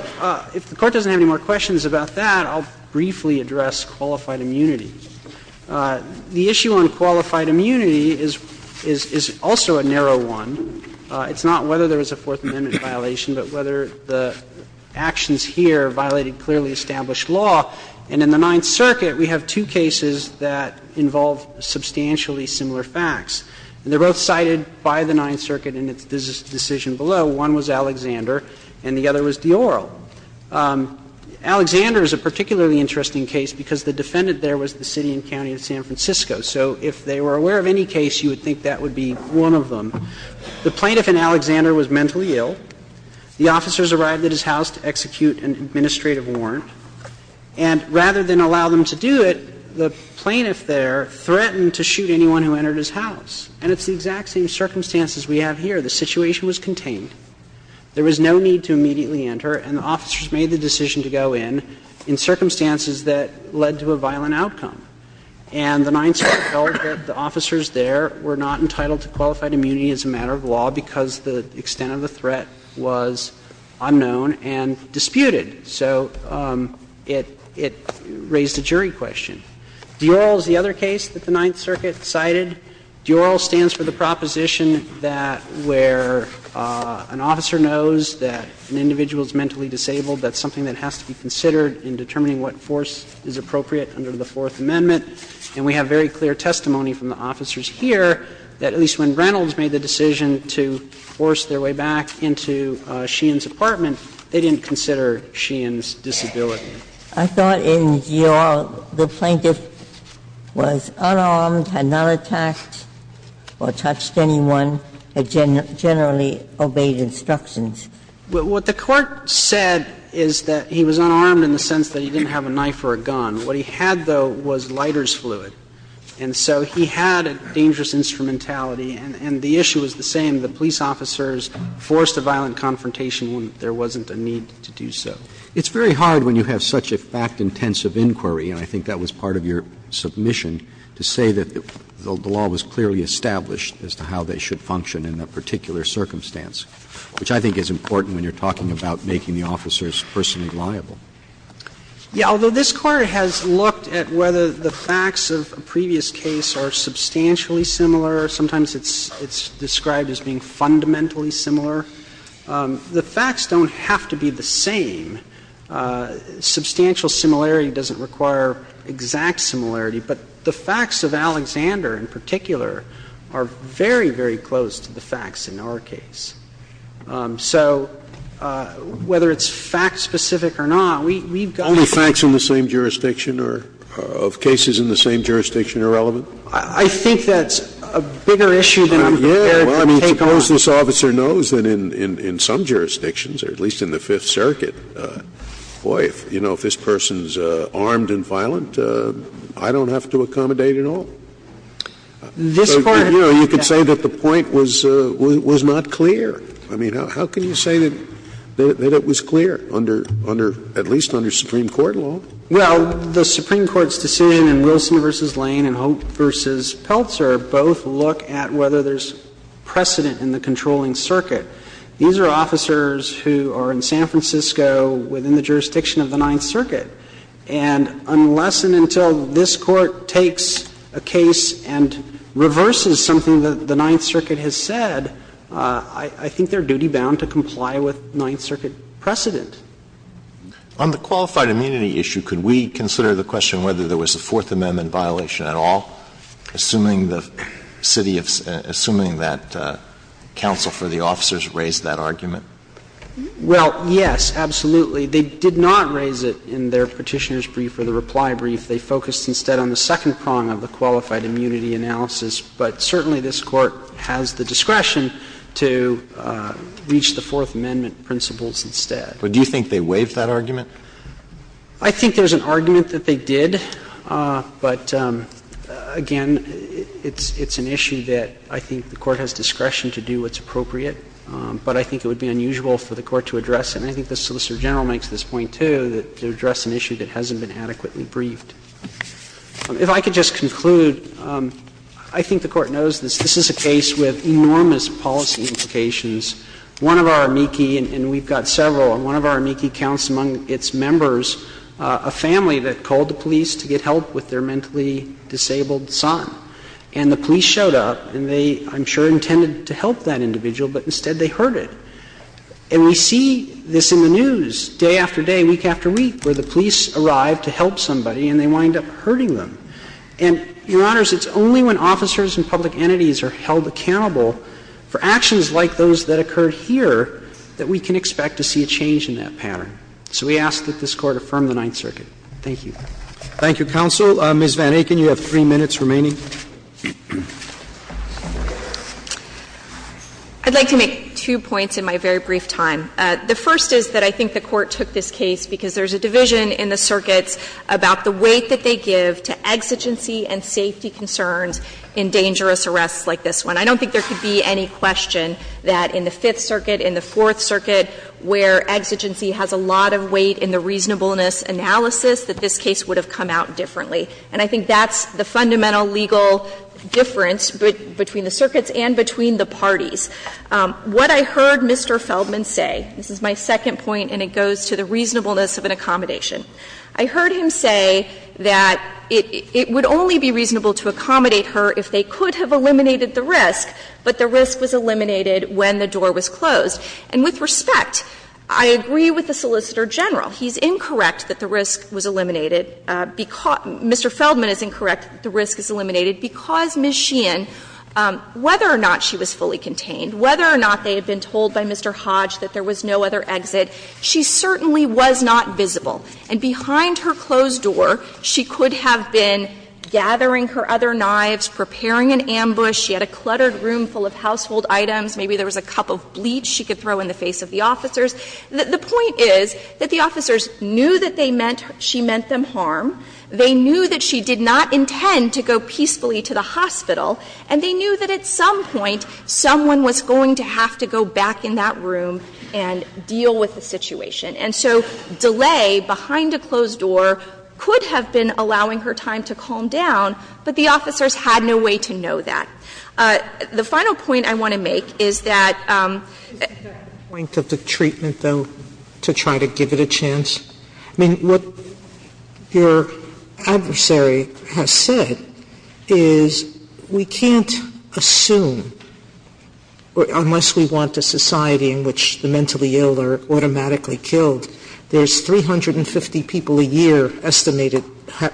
if the Court doesn't have any more questions about that, I'll briefly address qualified immunity. The issue on qualified immunity is also a narrow one. It's not whether there was a Fourth Amendment violation, but whether the actions here violated clearly established law. And in the Ninth Circuit, we have two cases that involve substantially similar facts. And they're both cited by the Ninth Circuit in its decision below. One was Alexander and the other was Dioro. Alexander is a particularly interesting case because the defendant there was the city and county of San Francisco. So if they were aware of any case, you would think that would be one of them. The plaintiff in Alexander was mentally ill. The officers arrived at his house to execute an administrative warrant. And rather than allow them to do it, the plaintiff there threatened to shoot anyone who entered his house. And it's the exact same circumstances we have here. The situation was contained. There was no need to immediately enter, and the officers made the decision to go in, in circumstances that led to a violent outcome. And the Ninth Circuit held that the officers there were not entitled to qualified immunity as a matter of law because the extent of the threat was unknown and disputed. So it raised a jury question. Dioro is the other case that the Ninth Circuit cited. Dioro stands for the proposition that where an officer knows that an individual is mentally disabled, that's something that has to be considered in determining what force is appropriate under the Fourth Amendment. And we have very clear testimony from the officers here that at least when Reynolds made the decision to force their way back into Sheehan's apartment, they didn't consider Sheehan's disability. I thought in Dioro, the plaintiff was unarmed, had not attacked or touched anyone, had generally obeyed instructions. What the Court said is that he was unarmed in the sense that he didn't have a knife or a gun. What he had, though, was lighter's fluid. And so he had a dangerous instrumentality, and the issue is the same. The police officers forced a violent confrontation when there wasn't a need to do so. It's very hard when you have such a fact-intensive inquiry, and I think that was part of your submission, to say that the law was clearly established as to how they should function in a particular circumstance, which I think is important when you're talking about making the officers personally liable. Yeah, although this Court has looked at whether the facts of a previous case are substantially similar, sometimes it's described as being fundamentally similar, the facts don't have to be the same. Substantial similarity doesn't require exact similarity, but the facts of Alexander in particular are very, very close to the facts in our case. So whether it's fact-specific or not, we've got to think. Only facts in the same jurisdiction or of cases in the same jurisdiction are relevant? Well, I mean, suppose this officer knows that in some jurisdictions, or at least in the Fifth Circuit, boy, you know, if this person's armed and violent, I don't have to accommodate at all. This Court has done that. You know, you could say that the point was not clear. I mean, how can you say that it was clear under at least under Supreme Court law? Well, the Supreme Court's decision in Wilson v. Lane and Hope v. Peltzer both look at whether there's precedent in the controlling circuit. These are officers who are in San Francisco within the jurisdiction of the Ninth Circuit. And unless and until this Court takes a case and reverses something that the Ninth Circuit has said, I think they're duty-bound to comply with Ninth Circuit precedent. On the qualified immunity issue, could we consider the question whether there was a Fourth Amendment violation at all? Assuming the city of – assuming that counsel for the officers raised that argument? Well, yes, absolutely. They did not raise it in their Petitioner's brief or the reply brief. They focused instead on the second prong of the qualified immunity analysis. But certainly this Court has the discretion to reach the Fourth Amendment principles instead. But do you think they waived that argument? I think there's an argument that they did. But, again, it's an issue that I think the Court has discretion to do what's appropriate. But I think it would be unusual for the Court to address it. And I think the Solicitor General makes this point, too, that to address an issue that hasn't been adequately briefed. If I could just conclude, I think the Court knows this. This is a case with enormous policy implications. One of our amici, and we've got several, and one of our amici counts among its members is a family that called the police to get help with their mentally disabled son. And the police showed up, and they, I'm sure, intended to help that individual, but instead they hurt it. And we see this in the news day after day, week after week, where the police arrive to help somebody and they wind up hurting them. And, Your Honors, it's only when officers and public entities are held accountable for actions like those that occurred here that we can expect to see a change in that pattern. So we ask that this Court affirm the Ninth Circuit. Thank you. Roberts. Thank you, counsel. Ms. Van Aken, you have three minutes remaining. Van Aken. I'd like to make two points in my very brief time. The first is that I think the Court took this case because there's a division in the circuits about the weight that they give to exigency and safety concerns in dangerous arrests like this one. I don't think there could be any question that in the Fifth Circuit, in the Fourth Circuit, where exigency has a lot of weight in the reasonableness analysis, that this case would have come out differently. And I think that's the fundamental legal difference between the circuits and between the parties. What I heard Mr. Feldman say, this is my second point and it goes to the reasonableness of an accommodation. I heard him say that it would only be reasonable to accommodate her if they could And with respect, I agree with the Solicitor General. He's incorrect that the risk was eliminated. Mr. Feldman is incorrect that the risk is eliminated because Ms. Sheehan, whether or not she was fully contained, whether or not they had been told by Mr. Hodge that there was no other exit, she certainly was not visible. And behind her closed door, she could have been gathering her other knives, preparing an ambush. She had a cluttered room full of household items. Maybe there was a cup of bleach. She could throw in the face of the officers. The point is that the officers knew that they meant — she meant them harm. They knew that she did not intend to go peacefully to the hospital. And they knew that at some point, someone was going to have to go back in that room and deal with the situation. And so delay behind a closed door could have been allowing her time to calm down, but the officers had no way to know that. The final point I want to make is that — Sotomayor — the point of the treatment, though, to try to give it a chance. I mean, what your adversary has said is we can't assume, unless we want a society in which the mentally ill are automatically killed, there's 350 people a year estimated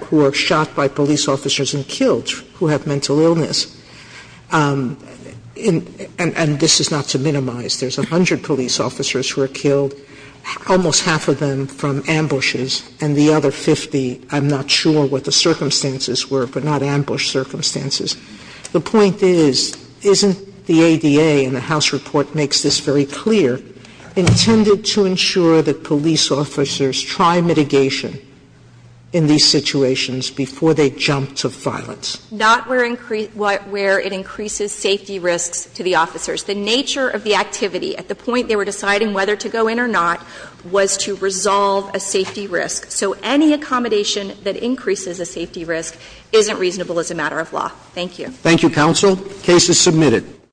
who are shot by police officers and killed who have mental illness. And this is not to minimize. There's 100 police officers who are killed, almost half of them from ambushes, and the other 50, I'm not sure what the circumstances were, but not ambush circumstances. The point is, isn't the ADA, and the House report makes this very clear, intended to ensure that police officers try mitigation in these situations before they jump to violence? Not where it increases safety risks to the officers. The nature of the activity at the point they were deciding whether to go in or not was to resolve a safety risk. So any accommodation that increases a safety risk isn't reasonable as a matter of law. Thank you. Thank you, counsel. Case is submitted.